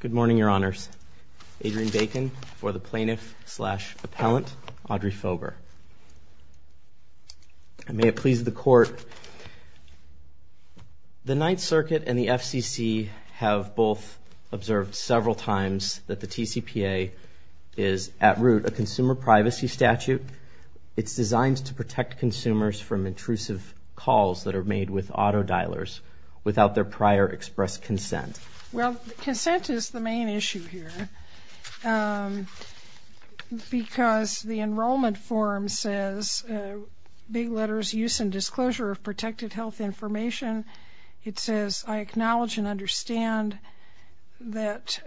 Good morning, Your Honors. Adrian Bacon for the plaintiff-slash-appellant, Audrey Fober. May it please the Court, the Ninth Circuit and the FCC have both observed several times that the TCPA is, at root, a consumer privacy statute. It's designed to protect consumers from intrusive calls that are made with auto dialers without their prior expressed consent. Well, consent is the main issue here because the enrollment form says, big letters, Use and Disclosure of Protected Health Information. It says, I acknowledge and understand that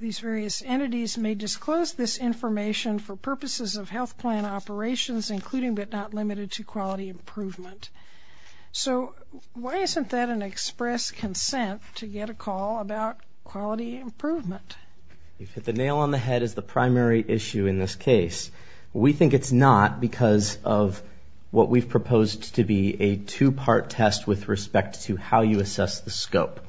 these various entities may disclose this information for purposes of health plan operations, including but not limited to quality improvement. So why isn't that an expressed consent to get a call about quality improvement? The nail on the head is the primary issue in this case. We think it's not because of what we've proposed to be a two-part test with respect to how you assess the scope.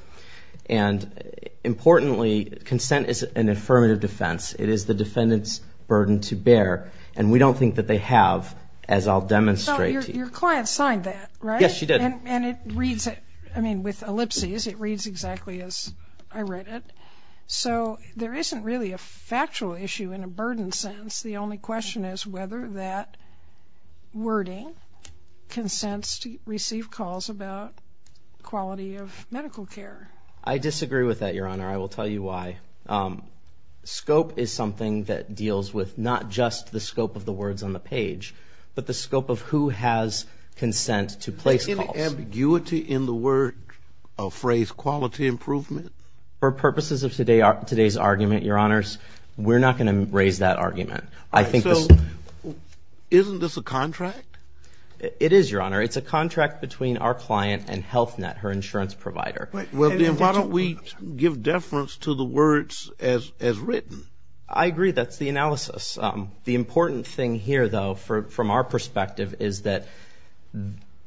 And importantly, consent is an affirmative defense. It is the defendant's burden to bear, and we don't think that they have, as I'll demonstrate to you. Your client signed that, right? Yes, she did. And it reads, I mean, with ellipses, it reads exactly as I read it. So there isn't really a factual issue in a burden sense. The only question is whether that wording consents to receive calls about quality of medical care. I disagree with that, Your Honor. I will tell you why. Scope is something that deals with not just the scope of the words on the page, but the scope of who has consent to place calls. Is there any ambiguity in the word or phrase quality improvement? For purposes of today's argument, Your Honors, we're not going to raise that argument. So isn't this a contract? It is, Your Honor. It's a contract between our client and Health Net, her insurance provider. Well, then why don't we give deference to the words as written? I agree. That's the analysis. The important thing here, though, from our perspective is that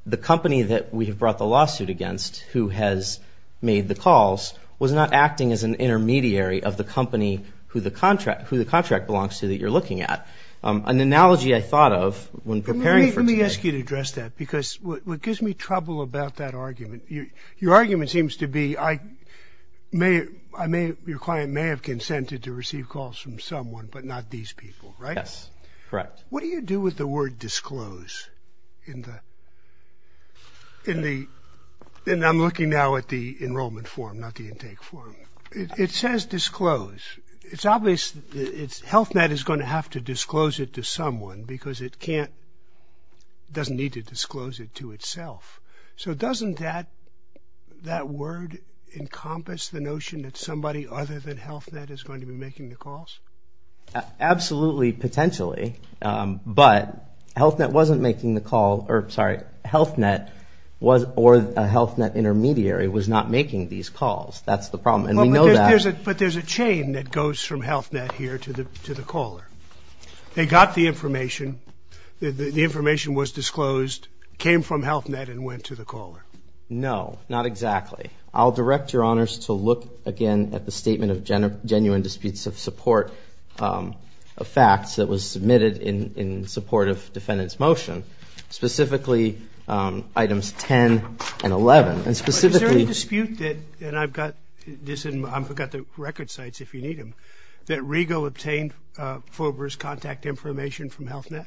the company that we have brought the lawsuit against who has made the calls was not acting as an intermediary of the company who the contract belongs to that you're looking at. An analogy I thought of when preparing for today. Let me ask you to address that because what gives me trouble about that argument, your argument seems to be your client may have consented to receive calls from someone, but not these people, right? Yes, correct. What do you do with the word disclose? And I'm looking now at the enrollment form, not the intake form. It says disclose. It's obvious that Health Net is going to have to disclose it to someone because it doesn't need to disclose it to itself. So doesn't that word encompass the notion that somebody other than Health Net is going to be making the calls? Absolutely, potentially, but Health Net wasn't making the call. Sorry, Health Net or a Health Net intermediary was not making these calls. That's the problem, and we know that. But there's a chain that goes from Health Net here to the caller. They got the information. The information was disclosed. It came from Health Net and went to the caller. No, not exactly. I'll direct Your Honors to look again at the statement of genuine disputes of support of facts that was submitted in support of defendant's motion, specifically items 10 and 11, and specifically- But is there any dispute that, and I've got this in my, I've got the record sites if you need them, that Regal obtained Fober's contact information from Health Net?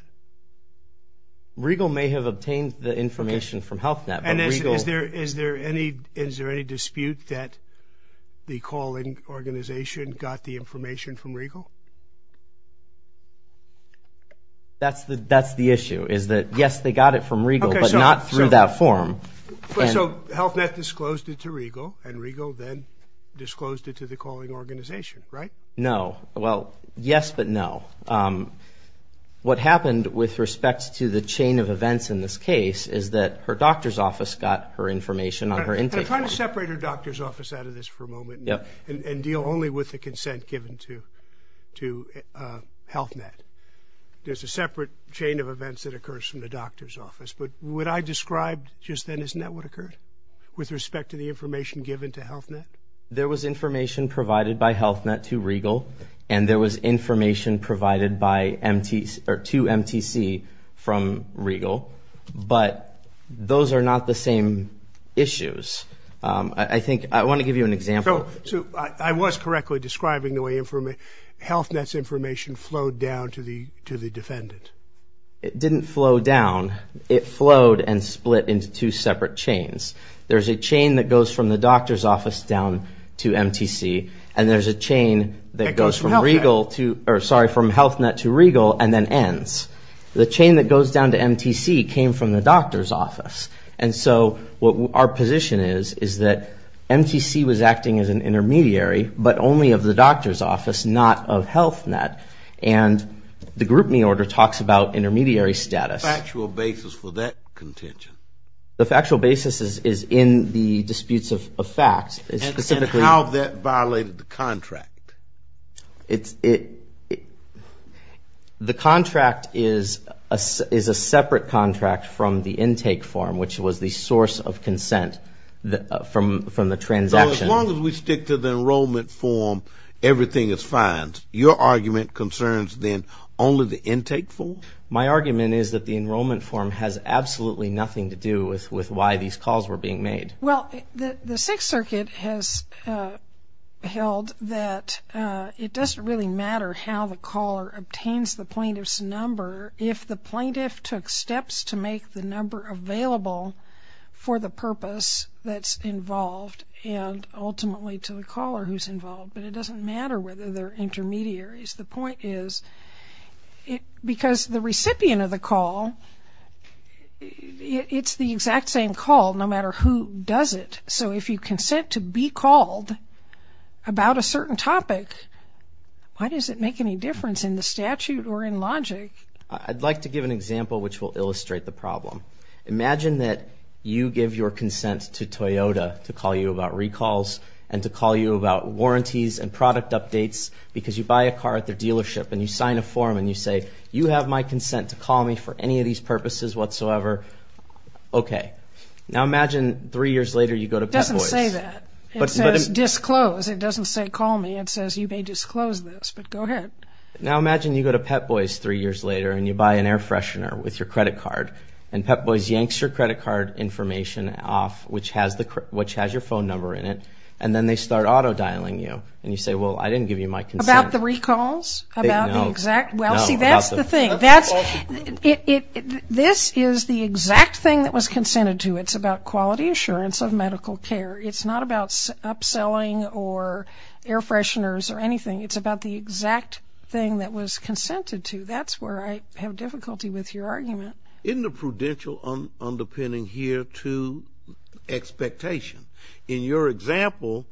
Regal may have obtained the information from Health Net, but Regal- And is there any dispute that the calling organization got the information from Regal? That's the issue, is that, yes, they got it from Regal, but not through that form. So Health Net disclosed it to Regal, and Regal then disclosed it to the calling organization, right? No. Well, yes, but no. What happened with respect to the chain of events in this case is that her doctor's office got her information on her intake form. I'm trying to separate her doctor's office out of this for a moment and deal only with the consent given to Health Net. There's a separate chain of events that occurs from the doctor's office, but what I described just then, isn't that what occurred with respect to the information given to Health Net? There was information provided by Health Net to Regal, and there was information provided to MTC from Regal, but those are not the same issues. I want to give you an example. So I was correctly describing the way Health Net's information flowed down to the defendant. It didn't flow down. It flowed and split into two separate chains. There's a chain that goes from the doctor's office down to MTC, and there's a chain that goes from Health Net to Regal and then ends. The chain that goes down to MTC came from the doctor's office, and so what our position is is that MTC was acting as an intermediary, but only of the doctor's office, not of Health Net, and the group me order talks about intermediary status. What's the factual basis for that contention? The factual basis is in the disputes of facts. And how that violated the contract? The contract is a separate contract from the intake form, which was the source of consent from the transaction. So as long as we stick to the enrollment form, everything is fine. Your argument concerns then only the intake form? My argument is that the enrollment form has absolutely nothing to do with why these calls were being made. Well, the Sixth Circuit has held that it doesn't really matter how the caller obtains the plaintiff's number if the plaintiff took steps to make the number available for the purpose that's involved and ultimately to the caller who's involved. But it doesn't matter whether they're intermediaries. The point is because the recipient of the call, it's the exact same call no matter who does it. So if you consent to be called about a certain topic, why does it make any difference in the statute or in logic? I'd like to give an example which will illustrate the problem. Imagine that you give your consent to Toyota to call you about recalls and to call you about warranties and product updates because you buy a car at their dealership and you sign a form and you say, you have my consent to call me for any of these purposes whatsoever. Okay. Now imagine three years later you go to Pep Boys. It doesn't say that. It says disclose. It doesn't say call me. It says you may disclose this, but go ahead. Now imagine you go to Pep Boys three years later and you buy an air freshener with your credit card and Pep Boys yanks your credit card information off which has your phone number in it and then they start auto dialing you and you say, well, I didn't give you my consent. About the recalls? No. Well, see, that's the thing. This is the exact thing that was consented to. It's about quality assurance of medical care. It's not about upselling or air fresheners or anything. It's about the exact thing that was consented to. That's where I have difficulty with your argument. Isn't the prudential underpinning here to expectation? In your example,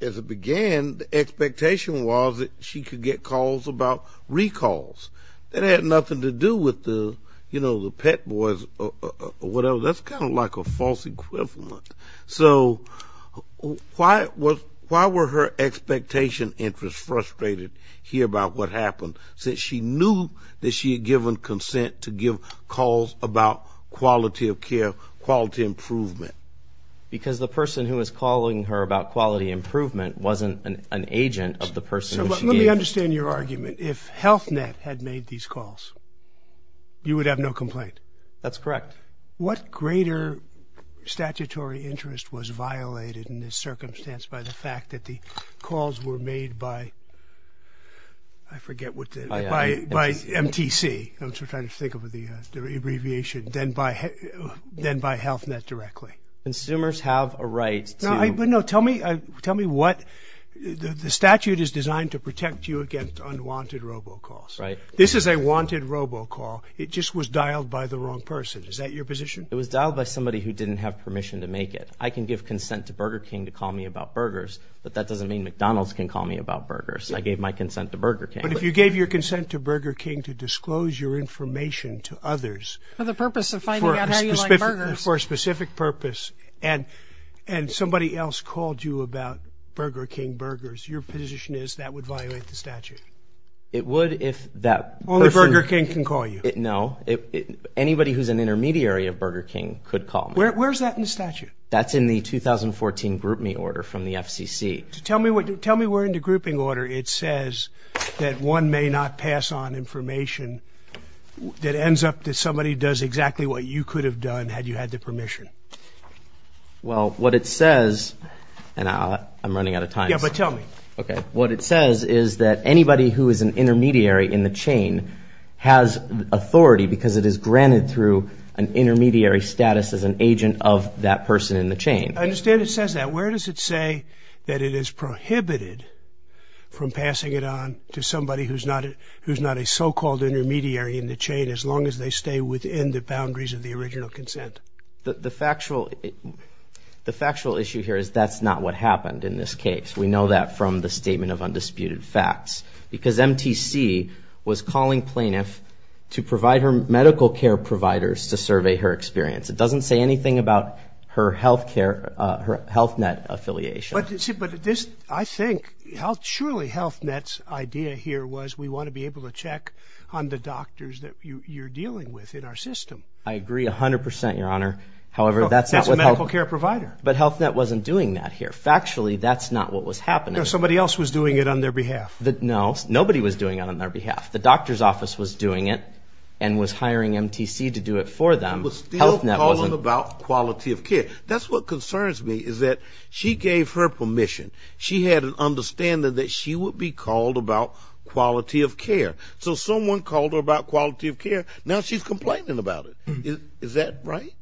as it began, the expectation was that she could get calls about recalls. That had nothing to do with the, you know, the Pep Boys or whatever. That's kind of like a false equivalent. So why were her expectation interests frustrated here about what happened? Since she knew that she had given consent to give calls about quality of care, quality improvement. Because the person who was calling her about quality improvement wasn't an agent of the person who she gave. Let me understand your argument. If Health Net had made these calls, you would have no complaint. That's correct. What greater statutory interest was violated in this circumstance by the fact that the calls were made by, I forget what, by MTC. I'm trying to think of the abbreviation. Then by Health Net directly. Consumers have a right to. No, tell me what. The statute is designed to protect you against unwanted robocalls. Right. This is a wanted robocall. It just was dialed by the wrong person. Is that your position? It was dialed by somebody who didn't have permission to make it. I can give consent to Burger King to call me about burgers. But that doesn't mean McDonald's can call me about burgers. I gave my consent to Burger King. But if you gave your consent to Burger King to disclose your information to others. For the purpose of finding out how you like burgers. For a specific purpose. And somebody else called you about Burger King burgers. Your position is that would violate the statute. It would if that person. Only Burger King can call you. No. Anybody who's an intermediary of Burger King could call me. Where's that in the statute? That's in the 2014 GroupMe order from the FCC. Tell me where in the grouping order it says that one may not pass on information. That ends up that somebody does exactly what you could have done had you had the permission. Well, what it says. And I'm running out of time. Yeah, but tell me. Okay. What it says is that anybody who is an intermediary in the chain has authority. Because it is granted through an intermediary status as an agent of that person in the chain. I understand it says that. Where does it say that it is prohibited from passing it on to somebody who's not a so-called intermediary in the chain. As long as they stay within the boundaries of the original consent. The factual issue here is that's not what happened in this case. We know that from the statement of undisputed facts. Because MTC was calling plaintiff to provide her medical care providers to survey her experience. It doesn't say anything about her healthcare, her HealthNet affiliation. But this, I think, surely HealthNet's idea here was we want to be able to check on the doctors that you're dealing with in our system. I agree 100%, Your Honor. However, that's not what HealthNet. That's a medical care provider. But HealthNet wasn't doing that here. Factually, that's not what was happening. No, somebody else was doing it on their behalf. No, nobody was doing it on their behalf. The doctor's office was doing it and was hiring MTC to do it for them. But still calling about quality of care. That's what concerns me is that she gave her permission. She had an understanding that she would be called about quality of care. So someone called her about quality of care. Now she's complaining about it. Is that right?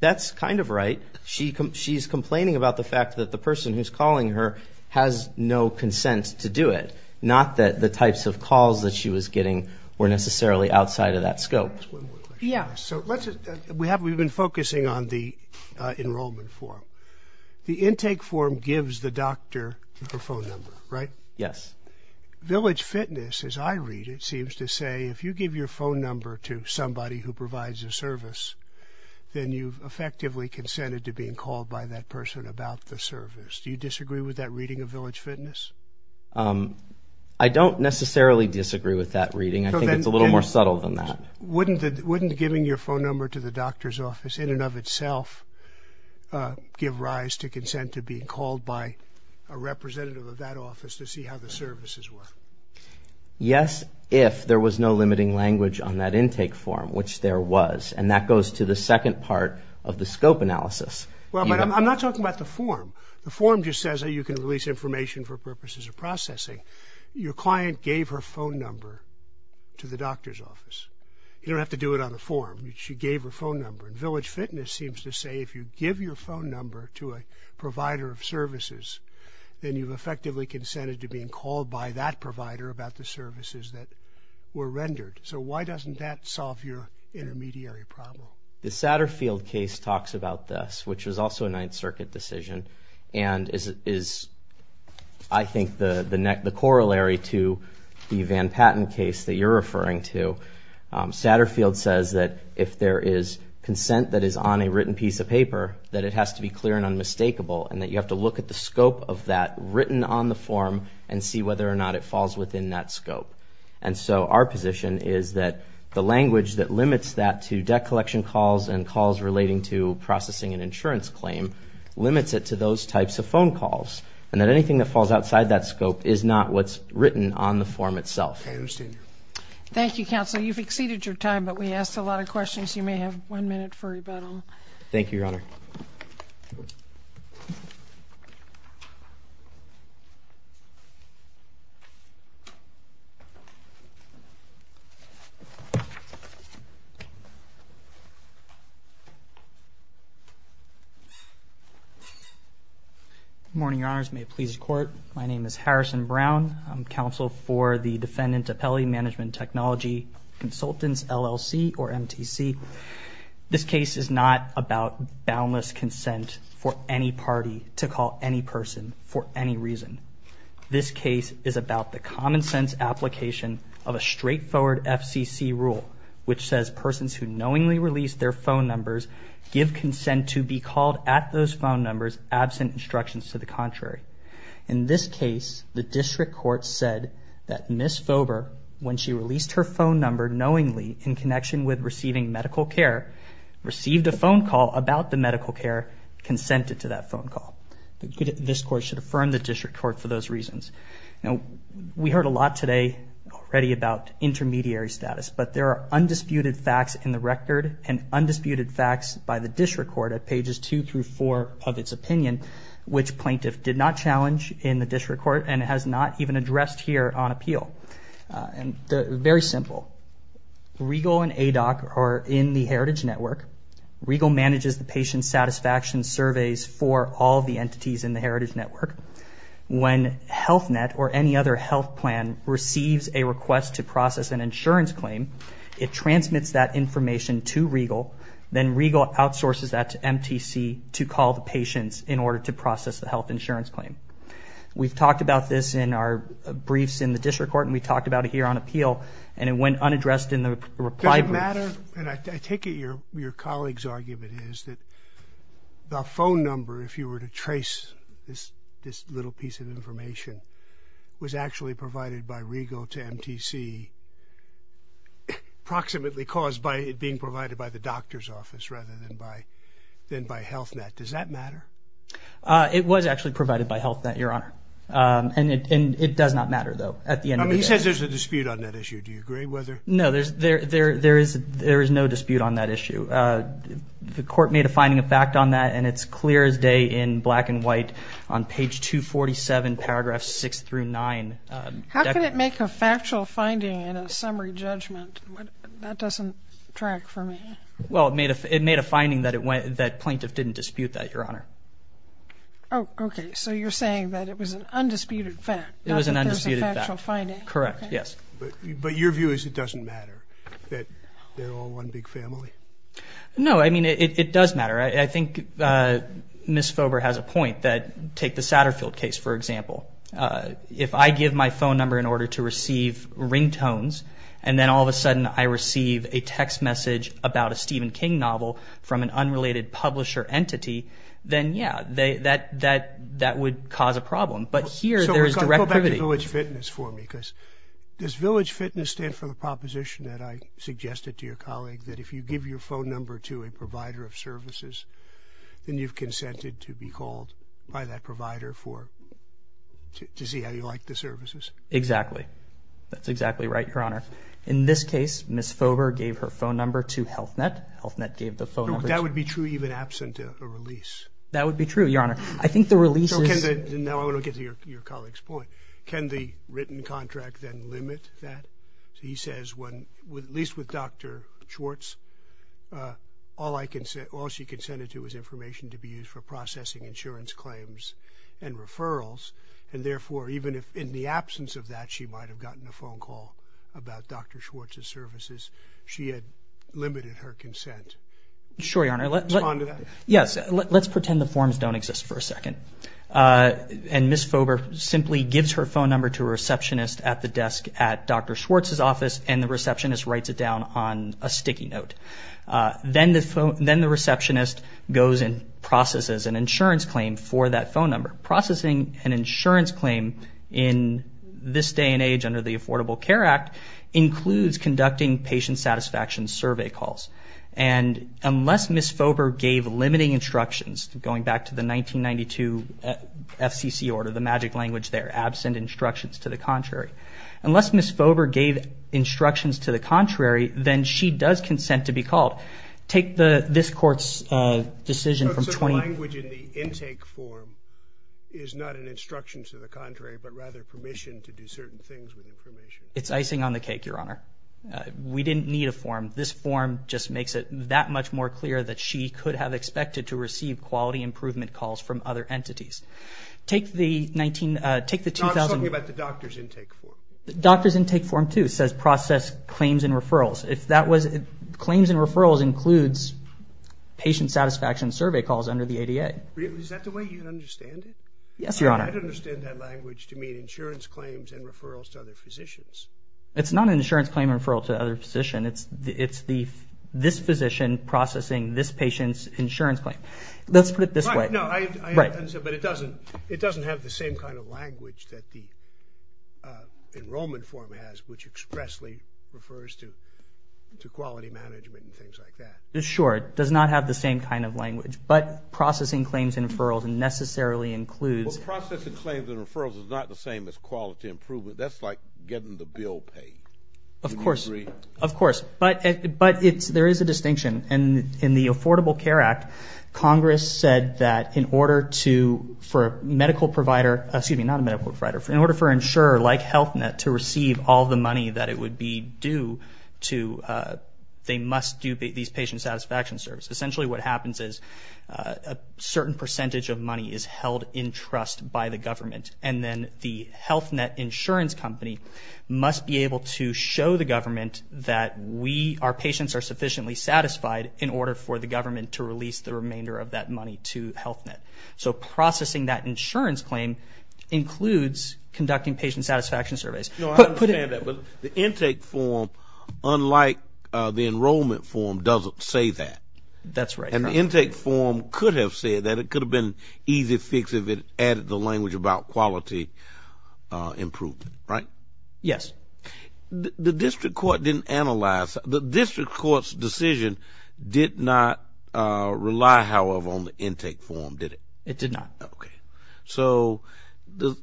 That's kind of right. She's complaining about the fact that the person who's calling her has no consent to do it. Not that the types of calls that she was getting were necessarily outside of that scope. Yeah. We've been focusing on the enrollment form. The intake form gives the doctor her phone number, right? Yes. Village Fitness, as I read it, seems to say if you give your phone number to somebody who provides a service, then you've effectively consented to being called by that person about the service. Do you disagree with that reading of Village Fitness? I don't necessarily disagree with that reading. I think it's a little more subtle than that. Wouldn't giving your phone number to the doctor's office in and of itself give rise to consent to being called by a representative of that office to see how the services were? Yes, if there was no limiting language on that intake form, which there was. And that goes to the second part of the scope analysis. Well, but I'm not talking about the form. The form just says that you can release information for purposes of processing. Your client gave her phone number to the doctor's office. You don't have to do it on the form. She gave her phone number. And Village Fitness seems to say if you give your phone number to a provider of services, then you've effectively consented to being called by that provider about the services that were rendered. So why doesn't that solve your intermediary problem? The Satterfield case talks about this, which was also a Ninth Circuit decision and is, I think, the corollary to the Van Patten case that you're referring to. Satterfield says that if there is consent that is on a written piece of paper, that it has to be clear and unmistakable and that you have to look at the scope of that written on the form and see whether or not it falls within that scope. And so our position is that the language that limits that to debt collection calls and calls relating to processing an insurance claim limits it to those types of phone calls and that anything that falls outside that scope is not what's written on the form itself. I understand. Thank you, counsel. You've exceeded your time, but we asked a lot of questions. Thank you, Your Honor. Good morning, Your Honors. May it please the Court. My name is Harrison Brown. I'm counsel for the Defendant Appellee Management Technology Consultants, LLC, or MTC. This case is not about boundless consent for any party to call any person for any reason. This case is about the common sense application of a straightforward FCC rule, which says persons who knowingly release their phone numbers give consent to be called at those phone numbers absent instructions to the contrary. In this case, the District Court said that Ms. Fober, when she released her phone number knowingly in connection with receiving medical care, received a phone call about the medical care, consented to that phone call. This Court should affirm the District Court for those reasons. We heard a lot today already about intermediary status, but there are undisputed facts in the record and undisputed facts by the District Court at pages 2 through 4 of its opinion, which plaintiff did not challenge in the District Court and has not even addressed here on appeal. Very simple. Regal and ADOC are in the Heritage Network. Regal manages the patient satisfaction surveys for all the entities in the Heritage Network. When HealthNet or any other health plan receives a request to process an insurance claim, it transmits that information to Regal, then Regal outsources that to MTC to call the patients in order to process the health insurance claim. We've talked about this in our briefs in the District Court, and we talked about it here on appeal, and it went unaddressed in the reply brief. Does it matter, and I take it your colleague's argument is that the phone number, if you were to trace this little piece of information, was actually provided by Regal to MTC approximately caused by it being provided by the doctor's office rather than by HealthNet. Does that matter? It was actually provided by HealthNet, Your Honor, and it does not matter, though. He says there's a dispute on that issue. Do you agree? No, there is no dispute on that issue. The court made a finding of fact on that, and it's clear as day in black and white on page 247, paragraphs 6 through 9. How can it make a factual finding in a summary judgment? That doesn't track for me. Well, it made a finding that plaintiff didn't dispute that, Your Honor. Oh, okay. So you're saying that it was an undisputed fact, not that there's a factual finding. Correct, yes. But your view is it doesn't matter, that they're all one big family? No, I mean, it does matter. I think Ms. Fober has a point that take the Satterfield case, for example. If I give my phone number in order to receive ringtones, and then all of a sudden I receive a text message about a Stephen King novel from an unrelated publisher entity, then, yeah, that would cause a problem. But here there's direct privilege. Does village fitness stand for the proposition that I suggested to your colleague that if you give your phone number to a provider of services, then you've consented to be called by that provider to see how you like the services? That's exactly right, Your Honor. In this case, Ms. Fober gave her phone number to Health Net. Health Net gave the phone number to her. That would be true even absent a release. That would be true, Your Honor. Now I want to get to your colleague's point. Can the written contract then limit that? He says, at least with Dr. Schwartz, all she consented to was information to be used for processing insurance claims and referrals, and therefore even in the absence of that, she might have gotten a phone call about Dr. Schwartz's services. She had limited her consent. Sure, Your Honor. Respond to that? Yes. Let's pretend the forms don't exist for a second. Ms. Fober simply gives her phone number to a receptionist at the desk at Dr. Schwartz's office, and the receptionist writes it down on a sticky note. Then the receptionist goes and processes an insurance claim for that phone number. Processing an insurance claim in this day and age under the Affordable Care Act includes conducting patient satisfaction survey calls. Unless Ms. Fober gave limiting instructions, going back to the 1992 FCC order, the magic language there, absent instructions to the contrary. Unless Ms. Fober gave instructions to the contrary, then she does consent to be called. Take this Court's decision from 20- So the language in the intake form is not an instruction to the contrary but rather permission to do certain things with information. It's icing on the cake, Your Honor. We didn't need a form. This form just makes it that much more clear that she could have expected to receive quality improvement calls from other entities. Take the 19- No, I'm talking about the doctor's intake form. The doctor's intake form, too, says process claims and referrals. If that was- claims and referrals includes patient satisfaction survey calls under the ADA. Is that the way you understand it? Yes, Your Honor. I don't understand that language to mean insurance claims and referrals to other physicians. It's not an insurance claim referral to other physician. It's this physician processing this patient's insurance claim. Let's put it this way. No, I understand. But it doesn't have the same kind of language that the enrollment form has, which expressly refers to quality management and things like that. Sure. It does not have the same kind of language. But processing claims and referrals necessarily includes- Well, processing claims and referrals is not the same as quality improvement. That's like getting the bill paid. Of course. Of course. But it's- there is a distinction. And in the Affordable Care Act, Congress said that in order to- for a medical provider- excuse me, not a medical provider. In order for insurer like Health Net to receive all the money that it would be due to, they must do these patient satisfaction surveys. Essentially what happens is a certain percentage of money is held in trust by the government, and then the Health Net insurance company must be able to show the government that we, our patients are sufficiently satisfied in order for the government to release the remainder of that money to Health Net. So processing that insurance claim includes conducting patient satisfaction surveys. No, I understand that. But the intake form, unlike the enrollment form, doesn't say that. That's right. And the intake form could have said that. It could have been an easy fix if it added the language about quality improvement, right? Yes. The district court didn't analyze. The district court's decision did not rely, however, on the intake form, did it? It did not. Okay. So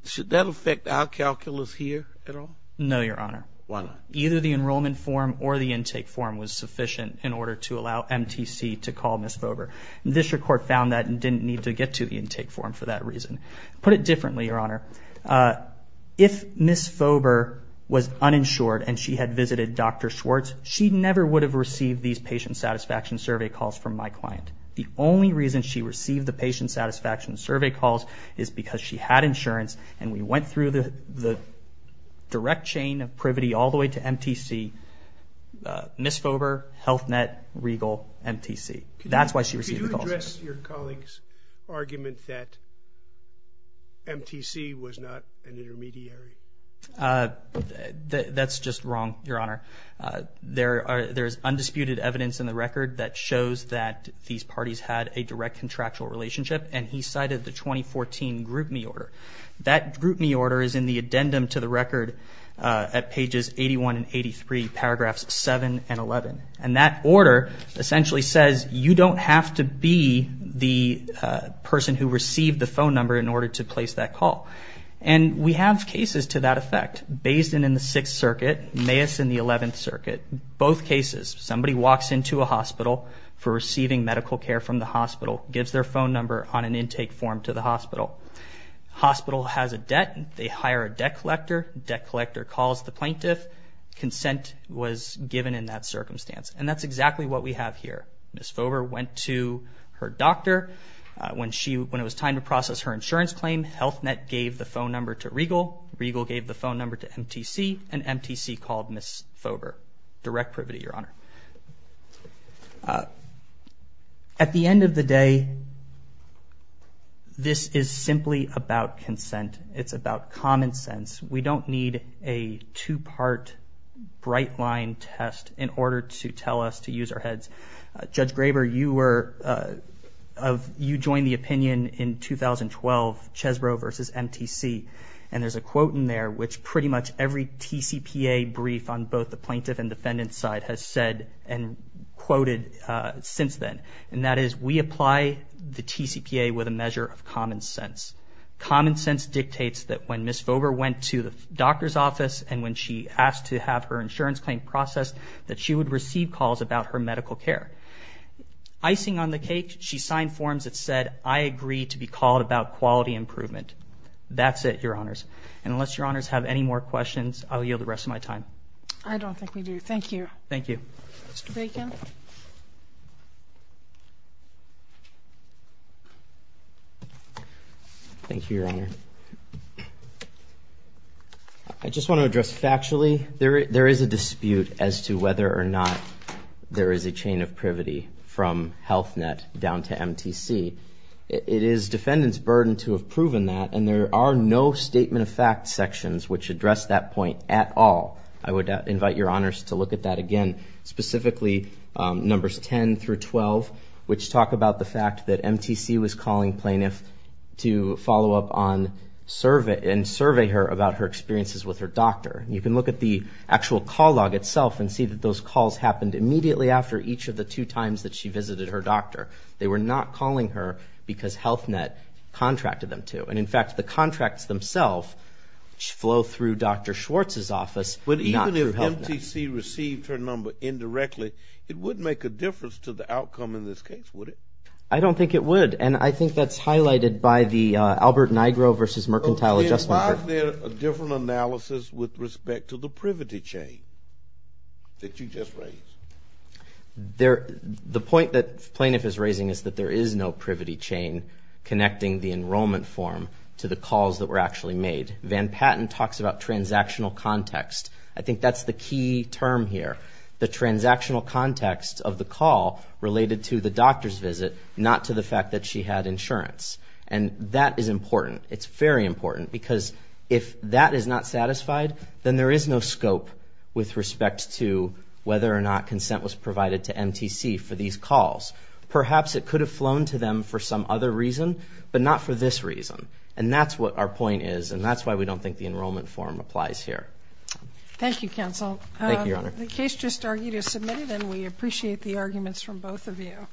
should that affect our calculus here at all? No, Your Honor. Why not? Either the enrollment form or the intake form was sufficient in order to allow MTC to call Ms. Vober. The district court found that and didn't need to get to the intake form for that reason. Put it differently, Your Honor. If Ms. Vober was uninsured and she had visited Dr. Schwartz, she never would have received these patient satisfaction survey calls from my client. The only reason she received the patient satisfaction survey calls is because she had insurance and we went through the direct chain of privity all the way to MTC. Ms. Vober, Health Net, Regal, MTC. That's why she received the calls. Could you address your colleague's argument that MTC was not an intermediary? That's just wrong, Your Honor. There is undisputed evidence in the record that shows that these parties had a direct contractual relationship, and he cited the 2014 group me order. That group me order is in the addendum to the record at pages 81 and 83, paragraphs 7 and 11. And that order essentially says, you don't have to be the person who received the phone number in order to place that call. And we have cases to that effect. Bayeson in the Sixth Circuit, Mayes in the Eleventh Circuit. Both cases, somebody walks into a hospital for receiving medical care from the hospital, gives their phone number on an intake form to the hospital. Hospital has a debt. They hire a debt collector. Debt collector calls the plaintiff. Consent was given in that circumstance, and that's exactly what we have here. Ms. Fover went to her doctor. When it was time to process her insurance claim, Health Net gave the phone number to Regal. Regal gave the phone number to MTC, and MTC called Ms. Fover. Direct privity, Your Honor. At the end of the day, this is simply about consent. It's about common sense. We don't need a two-part bright line test in order to tell us to use our heads. Judge Graber, you joined the opinion in 2012, Chesbrough versus MTC, and there's a quote in there which pretty much every TCPA brief on both the plaintiff and defendant side has said and quoted since then, and that is, we apply the TCPA with a measure of common sense. Common sense dictates that when Ms. Fover went to the doctor's office and when she asked to have her insurance claim processed, that she would receive calls about her medical care. Icing on the cake, she signed forms that said, I agree to be called about quality improvement. That's it, Your Honors. And unless Your Honors have any more questions, I'll yield the rest of my time. I don't think we do. Thank you. Thank you. Mr. Bacon. Thank you, Your Honor. I just want to address factually, there is a dispute as to whether or not there is a chain of privity from Health Net down to MTC. It is defendant's burden to have proven that, and there are no statement of fact sections which address that point at all. I would invite Your Honors to look at that again, specifically numbers 10 through 12, which talk about the fact that MTC was calling plaintiffs to follow up and survey her about her experiences with her doctor. You can look at the actual call log itself and see that those calls happened immediately after each of the two times that she visited her doctor. They were not calling her because Health Net contracted them to. And, in fact, the contracts themselves flow through Dr. Schwartz's office, not through Health Net. But even if MTC received her number indirectly, it wouldn't make a difference to the outcome in this case, would it? I don't think it would, and I think that's highlighted by the Albert Nigro versus Mercantile Adjustment Program. Why is there a different analysis with respect to the privity chain that you just raised? The point that the plaintiff is raising is that there is no privity chain connecting the enrollment form to the calls that were actually made. Van Patten talks about transactional context. I think that's the key term here, the transactional context of the call related to the doctor's visit, not to the fact that she had insurance. And that is important. It's very important because if that is not satisfied, then there is no scope with respect to whether or not consent was provided to MTC for these calls. Perhaps it could have flown to them for some other reason, but not for this reason. And that's what our point is, and that's why we don't think the enrollment form applies here. Thank you, Counsel. Thank you, Your Honor. The case just argued is submitted, and we appreciate the arguments from both of you.